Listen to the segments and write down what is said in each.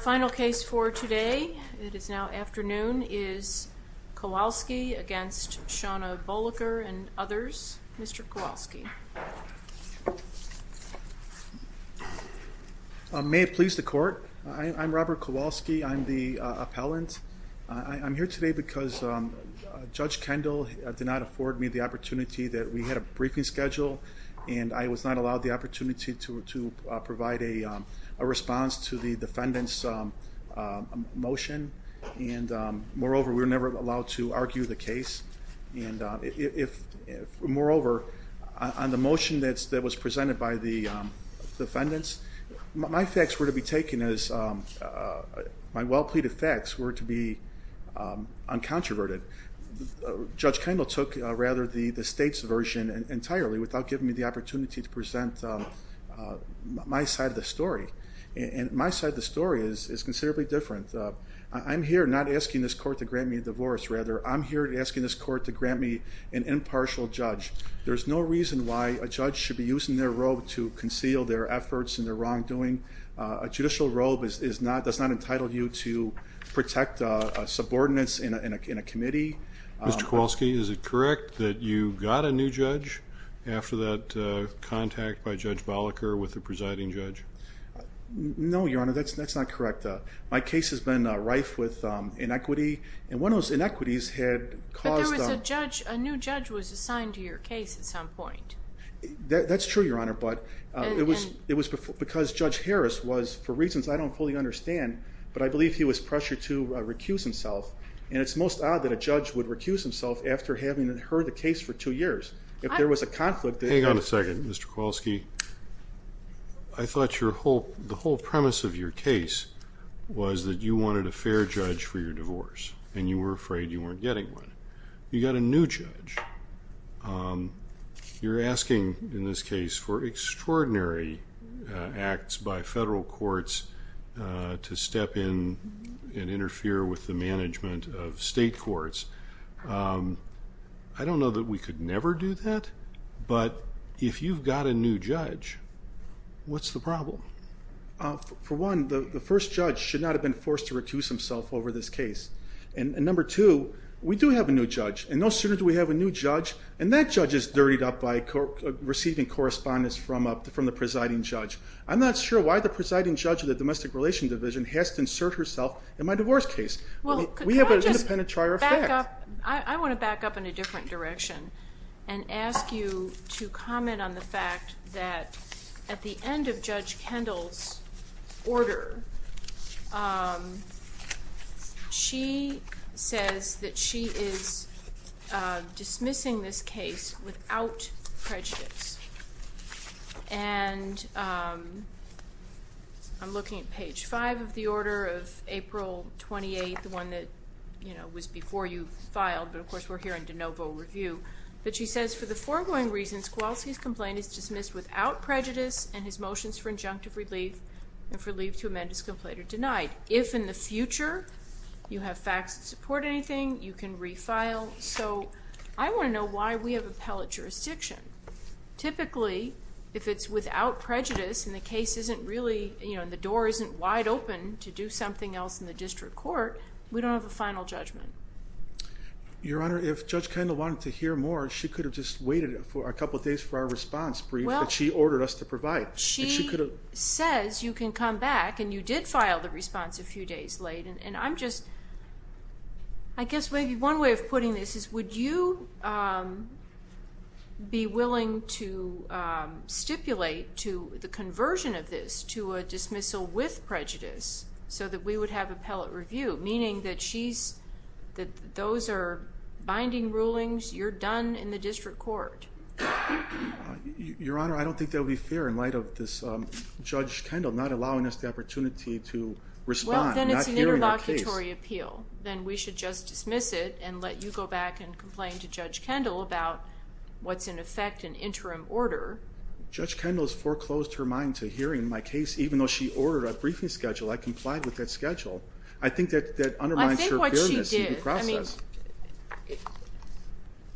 Final case for today, it is now afternoon, is Kowalski against Shauna Boliker and others. Mr. Kowalski. May it please the court. I'm Robert Kowalski. I'm the appellant. I'm here today because Judge Kendall did not afford me the opportunity that we had a briefing schedule and I was not allowed the opportunity to provide a response to the defendant's motion. And moreover, we were never allowed to argue the case. And if, moreover, on the motion that was presented by the defendants, my facts were to be taken as, my well pleaded facts were to be uncontroverted. Judge Kendall took, rather, the state's version entirely without giving me the opportunity to present my side of the story. And my side of the story is considerably different. I'm here not asking this court to grant me a divorce, rather, I'm here asking this court to grant me an impartial judge. There's no reason why a judge should be using their robe to conceal their efforts and their wrongdoing. A judicial robe does not entitle you to protect subordinates in a committee. Mr. Kowalski, is it correct that you got a new judge after that contact by Judge Boliker with the presiding judge? No, Your Honor, that's not correct. My case has been rife with inequity and one of those inequities had caused... But there was a judge, a new judge was assigned to your case at some point. That's true, Your Honor, but it was because Judge Harris was, for reasons I don't fully understand, but I believe he was pressured to recuse himself. And it's most odd that a judge would recuse himself after having heard the case for two years. If there was a conflict... Hang on a second, Mr. Kowalski. I thought the whole premise of your case was that you wanted a fair judge for your divorce and you were afraid you weren't getting one. You got a new judge. You're asking in this case for extraordinary acts by federal courts to step in and interfere with the management of state courts. I don't know that we could never do that, but if you've got a new judge, what's the problem? For one, the first judge should not have been forced to recuse himself over this case. And number two, we do have a new judge, and no sooner do we have a new judge, and that judge is dirtied up by receiving correspondence from the presiding judge. I'm not sure why the presiding judge of the Domestic Relations Division has to insert herself in my divorce case. I want to back up in a different direction and ask you to comment on the fact that at the end of Judge Kendall's order, she says that she is dismissing this case without prejudice. And I'm looking at page 5 of the order of April 28, the one that was before you filed, but of course we're here in de novo review. But she says, for the foregoing reasons, Kowalski's complaint is dismissed without prejudice and his motions for injunctive relief and for leave to amend his complaint are denied. If in the future you have facts that support anything, you can refile. I want to know why we have appellate jurisdiction. Typically, if it's without prejudice and the door isn't wide open to do something else in the district court, we don't have a final judgment. Your Honor, if Judge Kendall wanted to hear more, she could have just waited a couple days for our response brief that she ordered us to provide. But she says you can come back and you did file the response a few days late. And I'm just, I guess maybe one way of putting this is would you be willing to stipulate to the conversion of this to a dismissal with prejudice so that we would have appellate review? Meaning that those are binding rulings, you're done in the district court. Your Honor, I don't think that would be fair in light of this Judge Kendall not allowing us the opportunity to respond. Well, then it's an interlocutory appeal. Then we should just dismiss it and let you go back and complain to Judge Kendall about what's in effect an interim order. Judge Kendall's foreclosed her mind to hearing my case even though she ordered a briefing schedule. I complied with that schedule. I think that undermines her fairness in the process.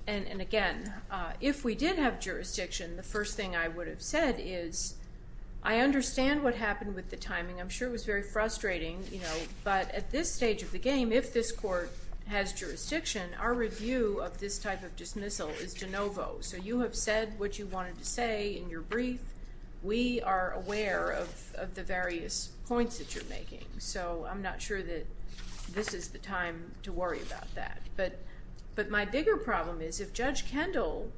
And again, if we did have jurisdiction, the first thing I would have said is I understand what happened with the timing. I'm sure it was very frustrating. But at this stage of the game, if this court has jurisdiction, our review of this type of dismissal is de novo. So you have said what you wanted to say in your brief. We are aware of the various points that you're making. So I'm not sure that this is the time to worry about that. But my bigger problem is if Judge Kendall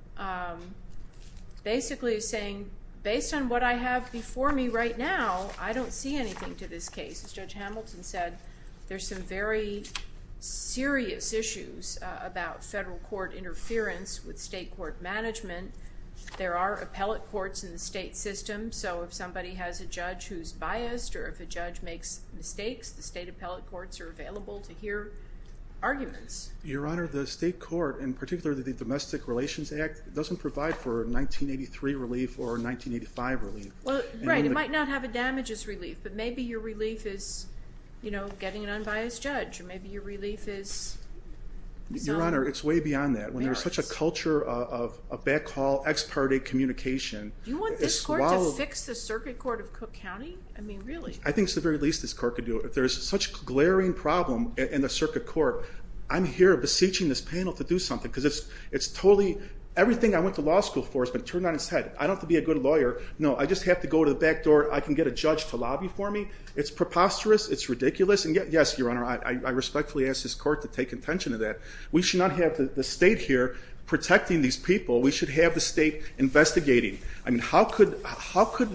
basically is saying, based on what I have before me right now, I don't see anything to this case. As Judge Hamilton said, there's some very serious issues about federal court interference with state court management. There are appellate courts in the state system. So if somebody has a judge who's biased or if a judge makes mistakes, the state appellate courts are available to hear arguments. Your Honor, the state court, in particular the Domestic Relations Act, doesn't provide for 1983 relief or 1985 relief. Right, it might not have a damages relief, but maybe your relief is getting an unbiased judge. Maybe your relief is... Your Honor, it's way beyond that. When there's such a culture of backhaul, ex parte communication... Can you fix the circuit court of Cook County? I mean, really. I think it's the very least this court could do. If there's such a glaring problem in the circuit court, I'm here beseeching this panel to do something. Because it's totally... everything I went to law school for has been turned on its head. I don't have to be a good lawyer. No, I just have to go to the back door. I can get a judge to lobby for me. It's preposterous. It's ridiculous. And yes, Your Honor, I respectfully ask this court to take attention to that. We should not have the state here protecting these people. We should have the state investigating. I mean, how could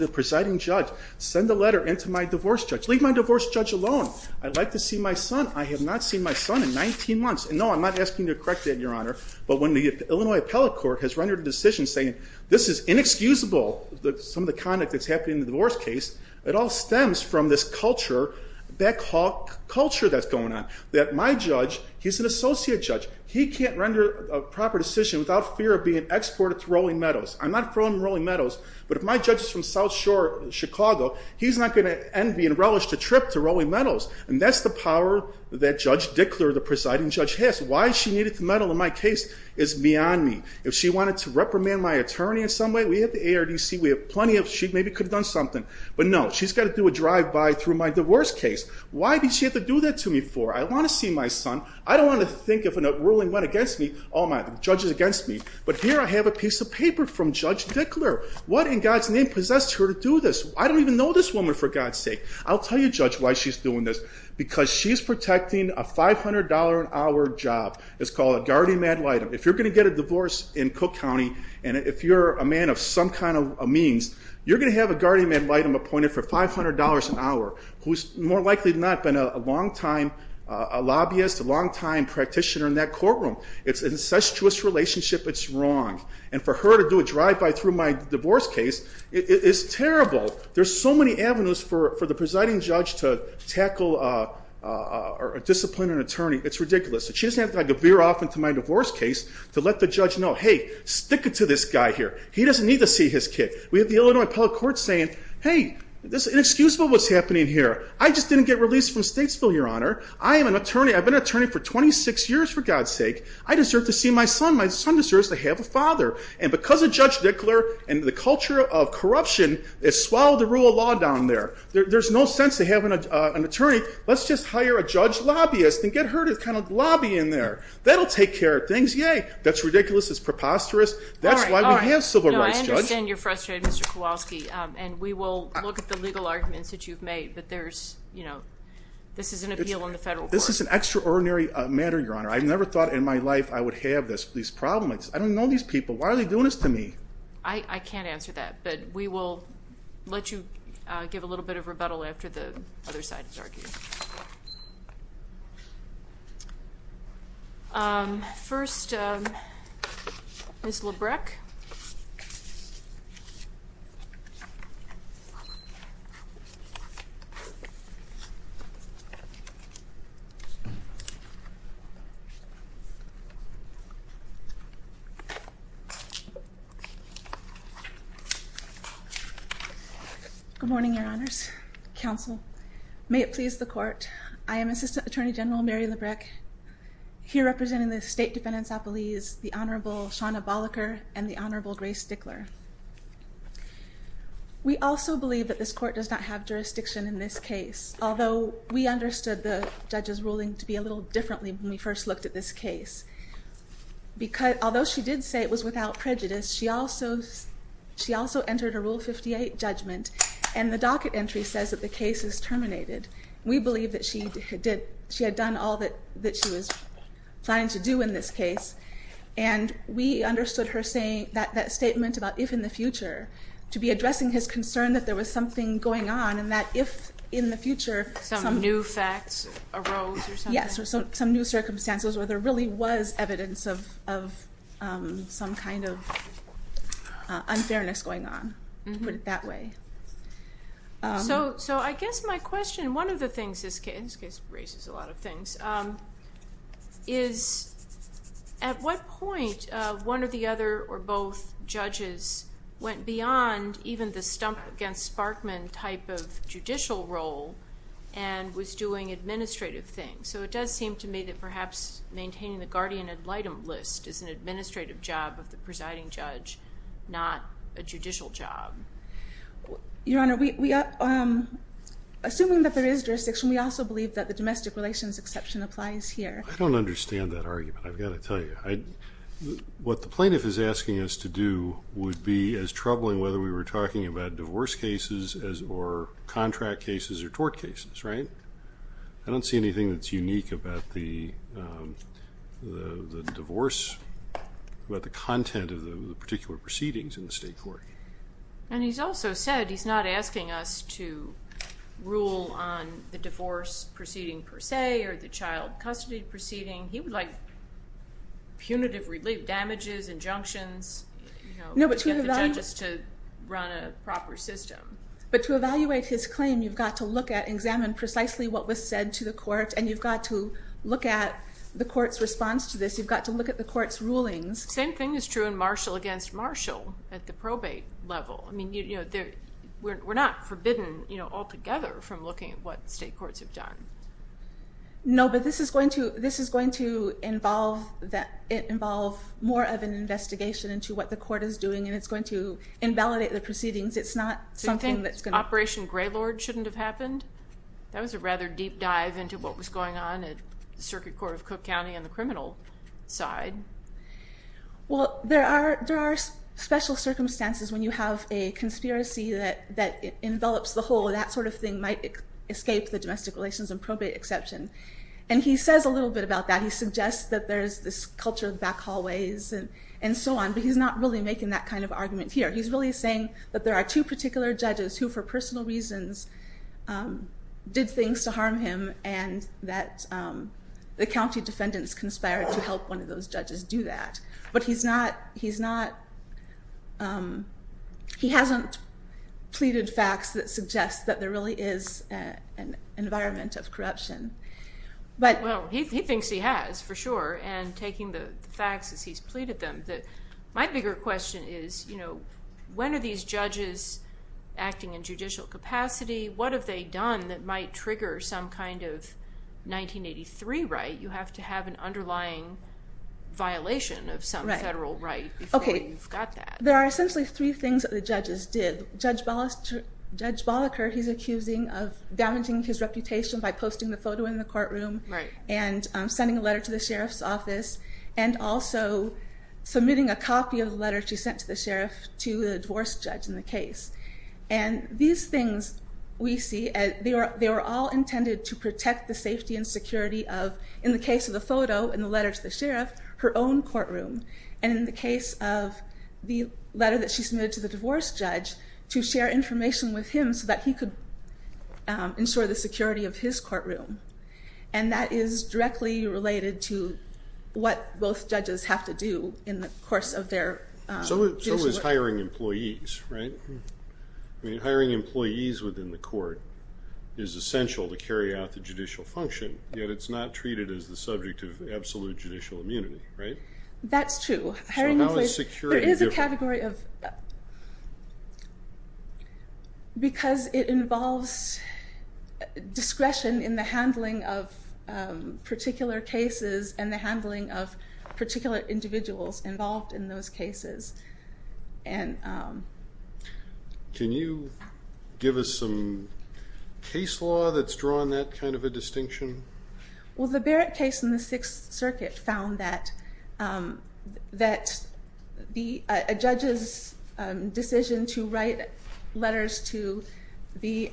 the presiding judge send a letter in to my divorce judge? Leave my divorce judge alone. I'd like to see my son. I have not seen my son in 19 months. And no, I'm not asking you to correct that, Your Honor. But when the Illinois Appellate Court has rendered a decision saying, this is inexcusable, some of the conduct that's happening in the divorce case, it all stems from this culture, backhaul culture that's going on. That my judge, he's an associate judge. He can't render a proper decision without fear of being exported to Rolling Meadows. I'm not from Rolling Meadows. But if my judge is from South Shore, Chicago, he's not going to envy and relish the trip to Rolling Meadows. And that's the power that Judge Dickler, the presiding judge, has. Why she needed to meddle in my case is beyond me. If she wanted to reprimand my attorney in some way, we have the ARDC, we have plenty of, she maybe could have done something. But no, she's got to do a drive-by through my divorce case. Why did she have to do that to me for? I want to see my son. I don't want to think if a ruling went against me, all my judges against me. But here I have a piece of paper from Judge Dickler. What in God's name possessed her to do this? I don't even know this woman, for God's sake. I'll tell you, Judge, why she's doing this. Because she's protecting a $500-an-hour job. It's called a guardian ad litem. If you're going to get a divorce in Cook County, and if you're a man of some kind of means, you're going to have a guardian ad litem appointed for $500 an hour, who's more likely than not been a long-time lobbyist, a long-time practitioner in that courtroom. It's an incestuous relationship. It's wrong. And for her to do a drive-by through my divorce case is terrible. There's so many avenues for the presiding judge to tackle or discipline an attorney. It's ridiculous. She doesn't have to veer off into my divorce case to let the judge know, hey, stick it to this guy here. He doesn't need to see his kid. We have the Illinois Appellate Court saying, hey, this is inexcusable what's happening here. I just didn't get released from Statesville, Your Honor. I am an attorney. I've been an attorney for 26 years, for God's sake. I deserve to see my son. My son deserves to have a father. And because of Judge Dickler and the culture of corruption, it swallowed the rule of law down there. There's no sense to have an attorney. Let's just hire a judge lobbyist and get her to kind of lobby in there. That will take care of things. Yay. That's ridiculous. It's preposterous. That's why we have civil rights, Judge. No, I understand you're frustrated, Mr. Kowalski, and we will look at the legal arguments that you've made, but this is an appeal in the federal court. This is an extraordinary matter, Your Honor. I never thought in my life I would have these problems. I don't know these people. Why are they doing this to me? I can't answer that, but we will let you give a little bit of rebuttal after the other side has argued. First, Ms. Lebrecq. Good morning, Your Honors. Counsel. May it please the Court. I am Assistant Attorney General Mary Lebrecq, here representing the State Defendant's Appealees, the Honorable Shawna Bolliker and the Honorable Grace Dickler. We also believe that this Court does not have jurisdiction in this case, although we understood the judge's ruling to be a little differently when we first looked at this case. Although she did say it was without prejudice, she also entered a Rule 58 judgment, and the docket entry says that the case is terminated. We believe that she had done all that she was planning to do in this case, and we understood that statement about if in the future, to be addressing his concern that there was something going on and that if in the future some new facts arose or something. Yes, or some new circumstances where there really was evidence of some kind of unfairness going on, put it that way. So I guess my question, one of the things this case, this case raises a lot of things, is at what point one of the other or both judges went beyond even the stump-against-Sparkman type of judicial role and was doing administrative things? So it does seem to me that perhaps maintaining the guardian ad litem list is an administrative job of the presiding judge, not a judicial job. Your Honor, assuming that there is jurisdiction, we also believe that the domestic relations exception applies here. I don't understand that argument, I've got to tell you. What the plaintiff is asking us to do would be as troubling whether we were talking about divorce cases or contract cases or tort cases, right? I don't see anything that's unique about the divorce, about the content of the particular proceedings in the state court. And he's also said he's not asking us to rule on the divorce proceeding per se or the child custody proceeding. He would like punitive relief, damages, injunctions, get the judges to run a proper system. But to evaluate his claim, you've got to look at and examine precisely what was said to the court and you've got to look at the court's response to this. You've got to look at the court's rulings. Same thing is true in Marshall against Marshall at the probate level. We're not forbidden altogether from looking at what state courts have done. No, but this is going to involve more of an investigation into what the court is doing and it's going to invalidate the proceedings. It's not something that's going to... Do you think Operation Greylord shouldn't have happened? That was a rather deep dive into what was going on at the Circuit Court of Cook County on the criminal side. Well, there are special circumstances when you have a conspiracy that envelops the whole. That sort of thing might escape the domestic relations and probate exception. And he says a little bit about that. He suggests that there's this culture of back hallways and so on, but he's not really making that kind of argument here. He's really saying that there are two particular judges who, for personal reasons, did things to harm him and that the county defendants conspired to help one of those judges do that. But he hasn't pleaded facts that suggest that there really is an environment of corruption. Well, he thinks he has, for sure, and taking the facts as he's pleaded them. My bigger question is, when are these judges acting in judicial capacity? What have they done that might trigger some kind of 1983 right? You have to have an underlying violation of some federal right before you've got that. There are essentially three things that the judges did. Judge Bolliker, he's accusing of damaging his reputation by posting the photo in the courtroom and sending a letter to the sheriff's office and also submitting a copy of the letter she sent to the sheriff to the divorce judge in the case. These things we see, they were all intended to protect the safety and security of, in the case of the photo and the letter to the sheriff, her own courtroom. In the case of the letter that she submitted to the divorce judge, to share information with him so that he could ensure the security of his courtroom. And that is directly related to what both judges have to do in the course of their judicial work. So is hiring employees, right? Hiring employees within the court is essential to carry out the judicial function, yet it's not treated as the subject of absolute judicial immunity, right? That's true. So how is security different? Because it involves discretion in the handling of particular cases and the handling of particular individuals involved in those cases. Can you give us some case law that's drawn that kind of a distinction? Well, the Barrett case in the Sixth Circuit found that a judge's decision to write letters to the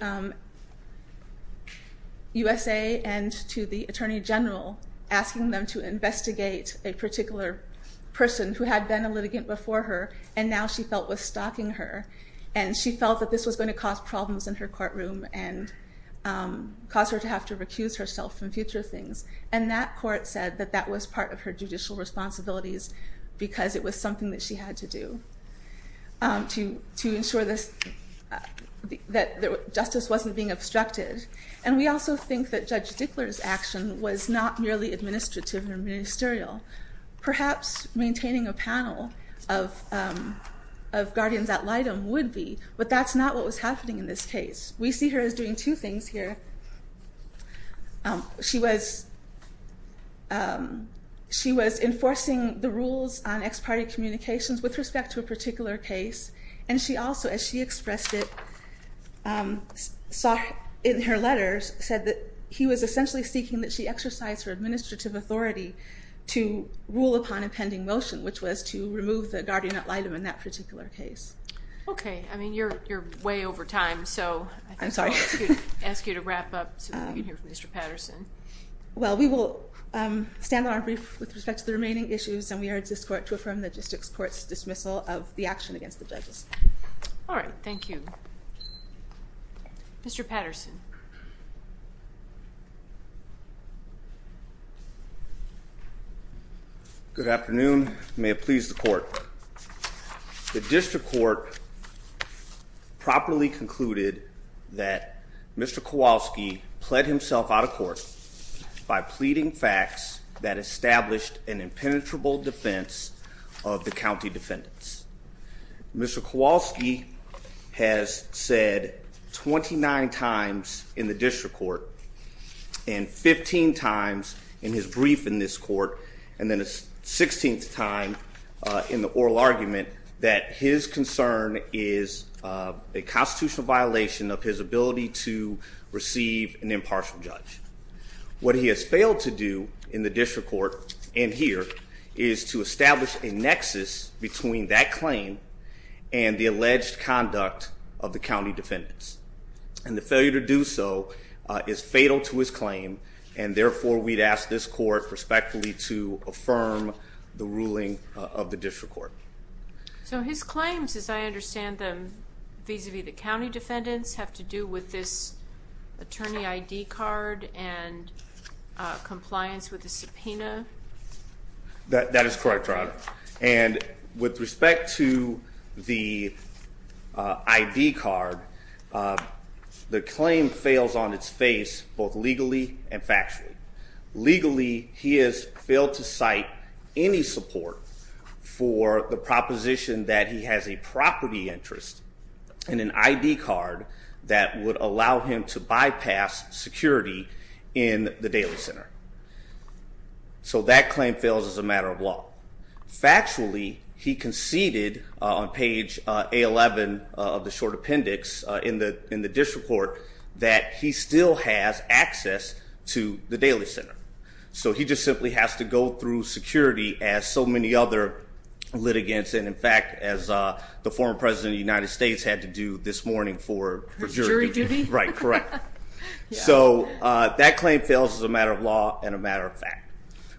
USA and to the Attorney General, asking them to investigate a particular person who had been a litigant before her, and now she felt was stalking her, and she felt that this was going to cause problems in her courtroom and cause her to have to recuse herself from future things. And that court said that that was part of her judicial responsibilities because it was something that she had to do to ensure that justice wasn't being obstructed. And we also think that Judge Dickler's action was not merely administrative or ministerial. Perhaps maintaining a panel of guardians at litem would be, but that's not what was happening in this case. We see her as doing two things here. She was enforcing the rules on ex parte communications with respect to a particular case, and she also, as she expressed it in her letters, said that he was essentially seeking that she exercise her administrative authority to rule upon a pending motion, which was to remove the guardian at litem in that particular case. Okay. I mean, you're way over time, so I think I'll ask you to wrap up so we can hear from Mr. Patterson. Well, we will stand on our brief with respect to the remaining issues, and we urge this court to affirm the district court's dismissal of the action against the judges. All right. Thank you. Mr. Patterson. Good afternoon. May it please the court. The district court properly concluded that Mr. Kowalski pled himself out of court by pleading facts that established an impenetrable defense of the county defendants. Mr. Kowalski has said 29 times in the district court and 15 times in his brief in this court and then a 16th time in the oral argument that his concern is a constitutional violation of his ability to receive an impartial judge. What he has failed to do in the district court and here is to establish a nexus between that claim and the alleged conduct of the county defendants, and the failure to do so is fatal to his claim, and therefore we'd ask this court respectfully to affirm the ruling of the district court. So his claims, as I understand them, vis-a-vis the county defendants have to do with this attorney ID card and compliance with the subpoena? That is correct, Your Honor. And with respect to the ID card, the claim fails on its face both legally and factually. Legally, he has failed to cite any support for the proposition that he has a property interest in an ID card that would allow him to bypass security in the daily center. So that claim fails as a matter of law. Factually, he conceded on page A11 of the short appendix in the district court that he still has access to the daily center. So he just simply has to go through security as so many other litigants and in fact as the former president of the United States had to do this morning for jury duty. Right, correct. So that claim fails as a matter of law and a matter of fact.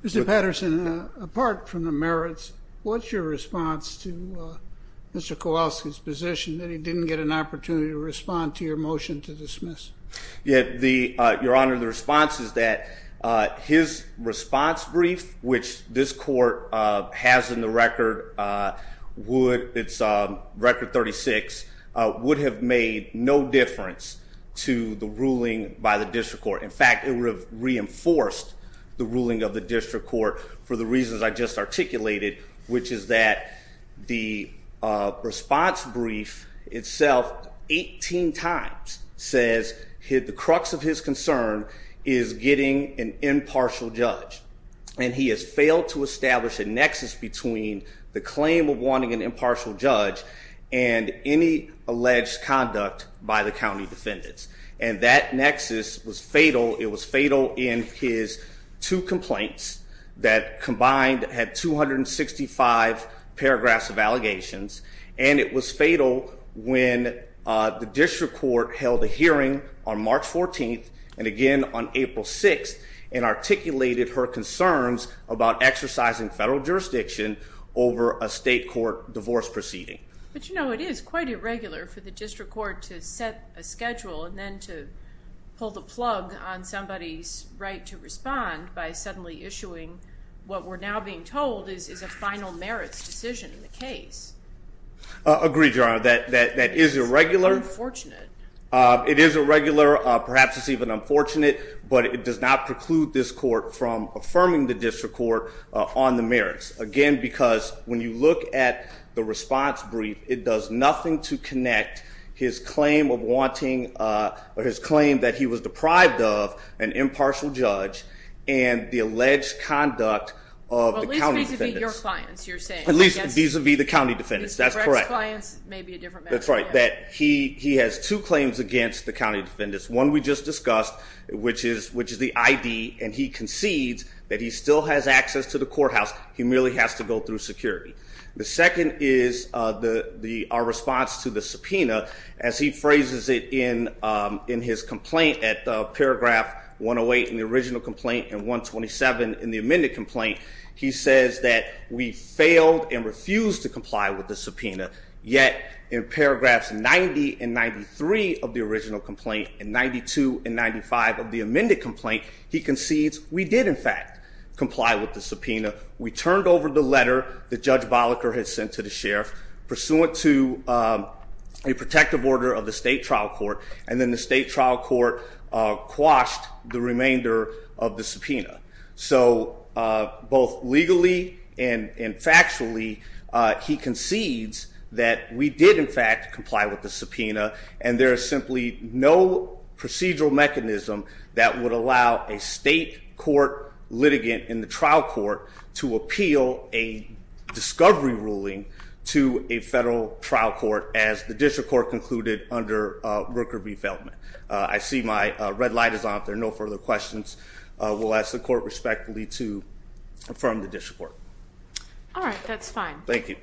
Mr. Patterson, apart from the merits, what's your response to Mr. Kowalski's position that he didn't get an opportunity to respond to your motion to dismiss? Your Honor, the response is that his response brief, which this court has in the record, it's record 36, would have made no difference to the ruling by the district court. In fact, it would have reinforced the ruling of the district court for the reasons I just articulated, which is that the response brief itself 18 times says the crux of his concern is getting an impartial judge. And he has failed to establish a nexus between the claim of wanting an impartial judge and any alleged conduct by the county defendants. And that nexus was fatal. It was fatal in his two complaints that combined had 265 paragraphs of allegations. And it was fatal when the district court held a hearing on March 14th and again on April 6th and articulated her concerns about exercising federal jurisdiction over a state court divorce proceeding. But, you know, it is quite irregular for the district court to set a schedule and then to pull the plug on somebody's right to respond by suddenly issuing what we're now being told is a final merits decision in the case. Agreed, Your Honor, that is irregular. It's unfortunate. It is irregular. Perhaps it's even unfortunate, but it does not preclude this court from affirming the district court on the merits. Again, because when you look at the response brief, it does nothing to connect his claim of wanting, or his claim that he was deprived of an impartial judge and the alleged conduct of the county defendants. Well, vis-a-vis your clients, you're saying. At least vis-a-vis the county defendants. That's correct. Mr. Brecht's clients may be a different matter. That's right, that he has two claims against the county defendants. One we just discussed, which is the ID, and he concedes that he still has access to the courthouse. He merely has to go through security. The second is our response to the subpoena. As he phrases it in his complaint at paragraph 108 in the original complaint and 127 in the amended complaint, he says that we failed and refused to comply with the subpoena. Yet, in paragraphs 90 and 93 of the original complaint and 92 and 95 of the amended complaint, he concedes we did, in fact, comply with the subpoena. We turned over the letter that Judge Bolliker had sent to the sheriff, pursuant to a protective order of the state trial court, and then the state trial court quashed the remainder of the subpoena. So, both legally and factually, he concedes that we did, in fact, comply with the subpoena, and there is simply no procedural mechanism that would allow a state court litigant in the trial court to appeal a discovery ruling to a federal trial court as the district court concluded under Rooker v. Feldman. I see my red light is on. If there are no further questions, we'll ask the court respectfully to confirm the district court. All right. That's fine. Thank you.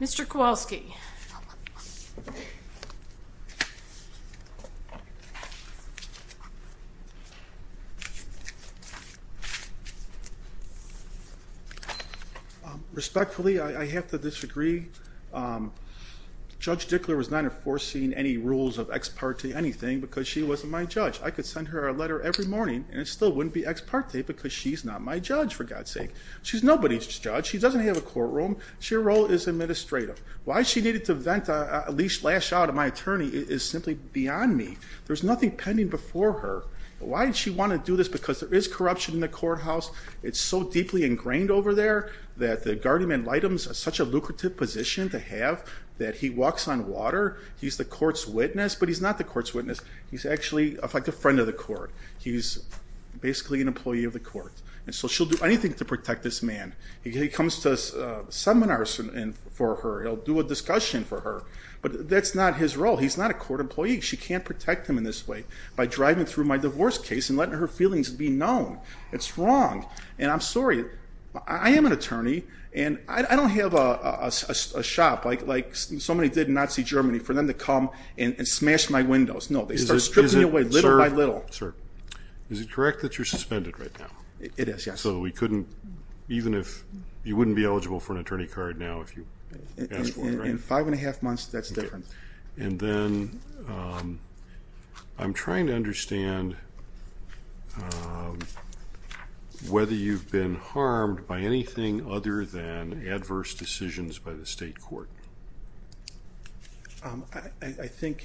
Mr. Kowalski. Respectfully, I have to disagree. Judge Dickler was not enforcing any rules of ex parte anything because she wasn't my judge. I could send her a letter every morning, and it still wouldn't be ex parte because she's not my judge, for God's sake. She's nobody's judge. She doesn't have a courtroom. Her role is administrative. Why she needed to vent a leash, lash out at my attorney is simply beyond me. There's nothing pending before her. Why did she want to do this? Because there is corruption in the courthouse. It's so deeply ingrained over there that the guardian-in-light is in such a lucrative position to have that he walks on water. He's the court's witness, but he's not the court's witness. He's actually like a friend of the court. He's basically an employee of the court, and so she'll do anything to protect this man. He comes to seminars for her. He'll do a discussion for her, but that's not his role. He's not a court employee. She can't protect him in this way by driving through my divorce case and letting her feelings be known. It's wrong, and I'm sorry. I am an attorney, and I don't have a shop like somebody did in Nazi Germany for them to come and smash my windows. No, they start stripping me away little by little. Sir, is it correct that you're suspended right now? It is, yes. So we couldn't, even if you wouldn't be eligible for an attorney card now if you asked for it, right? In five and a half months, that's different. And then I'm trying to understand whether you've been harmed by anything other than adverse decisions by the state court. I think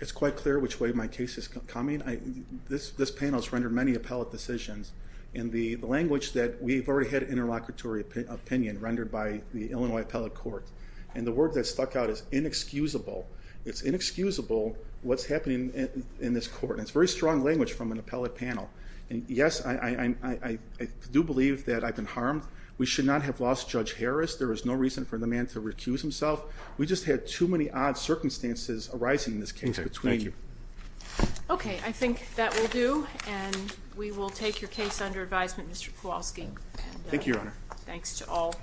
it's quite clear which way my case is coming. This panel has rendered many appellate decisions. And the language that we've already had interlocutory opinion rendered by the Illinois Appellate Court, and the word that stuck out is inexcusable. It's inexcusable what's happening in this court, and it's very strong language from an appellate panel. Yes, I do believe that I've been harmed. We should not have lost Judge Harris. There is no reason for the man to recuse himself. We just had too many odd circumstances arising in this case between you. Okay, thank you. Okay, I think that will do, and we will take your case under advisement, Mr. Kowalski. Thank you, Your Honor. And thanks to all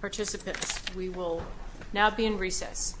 participants. We will now be in recess.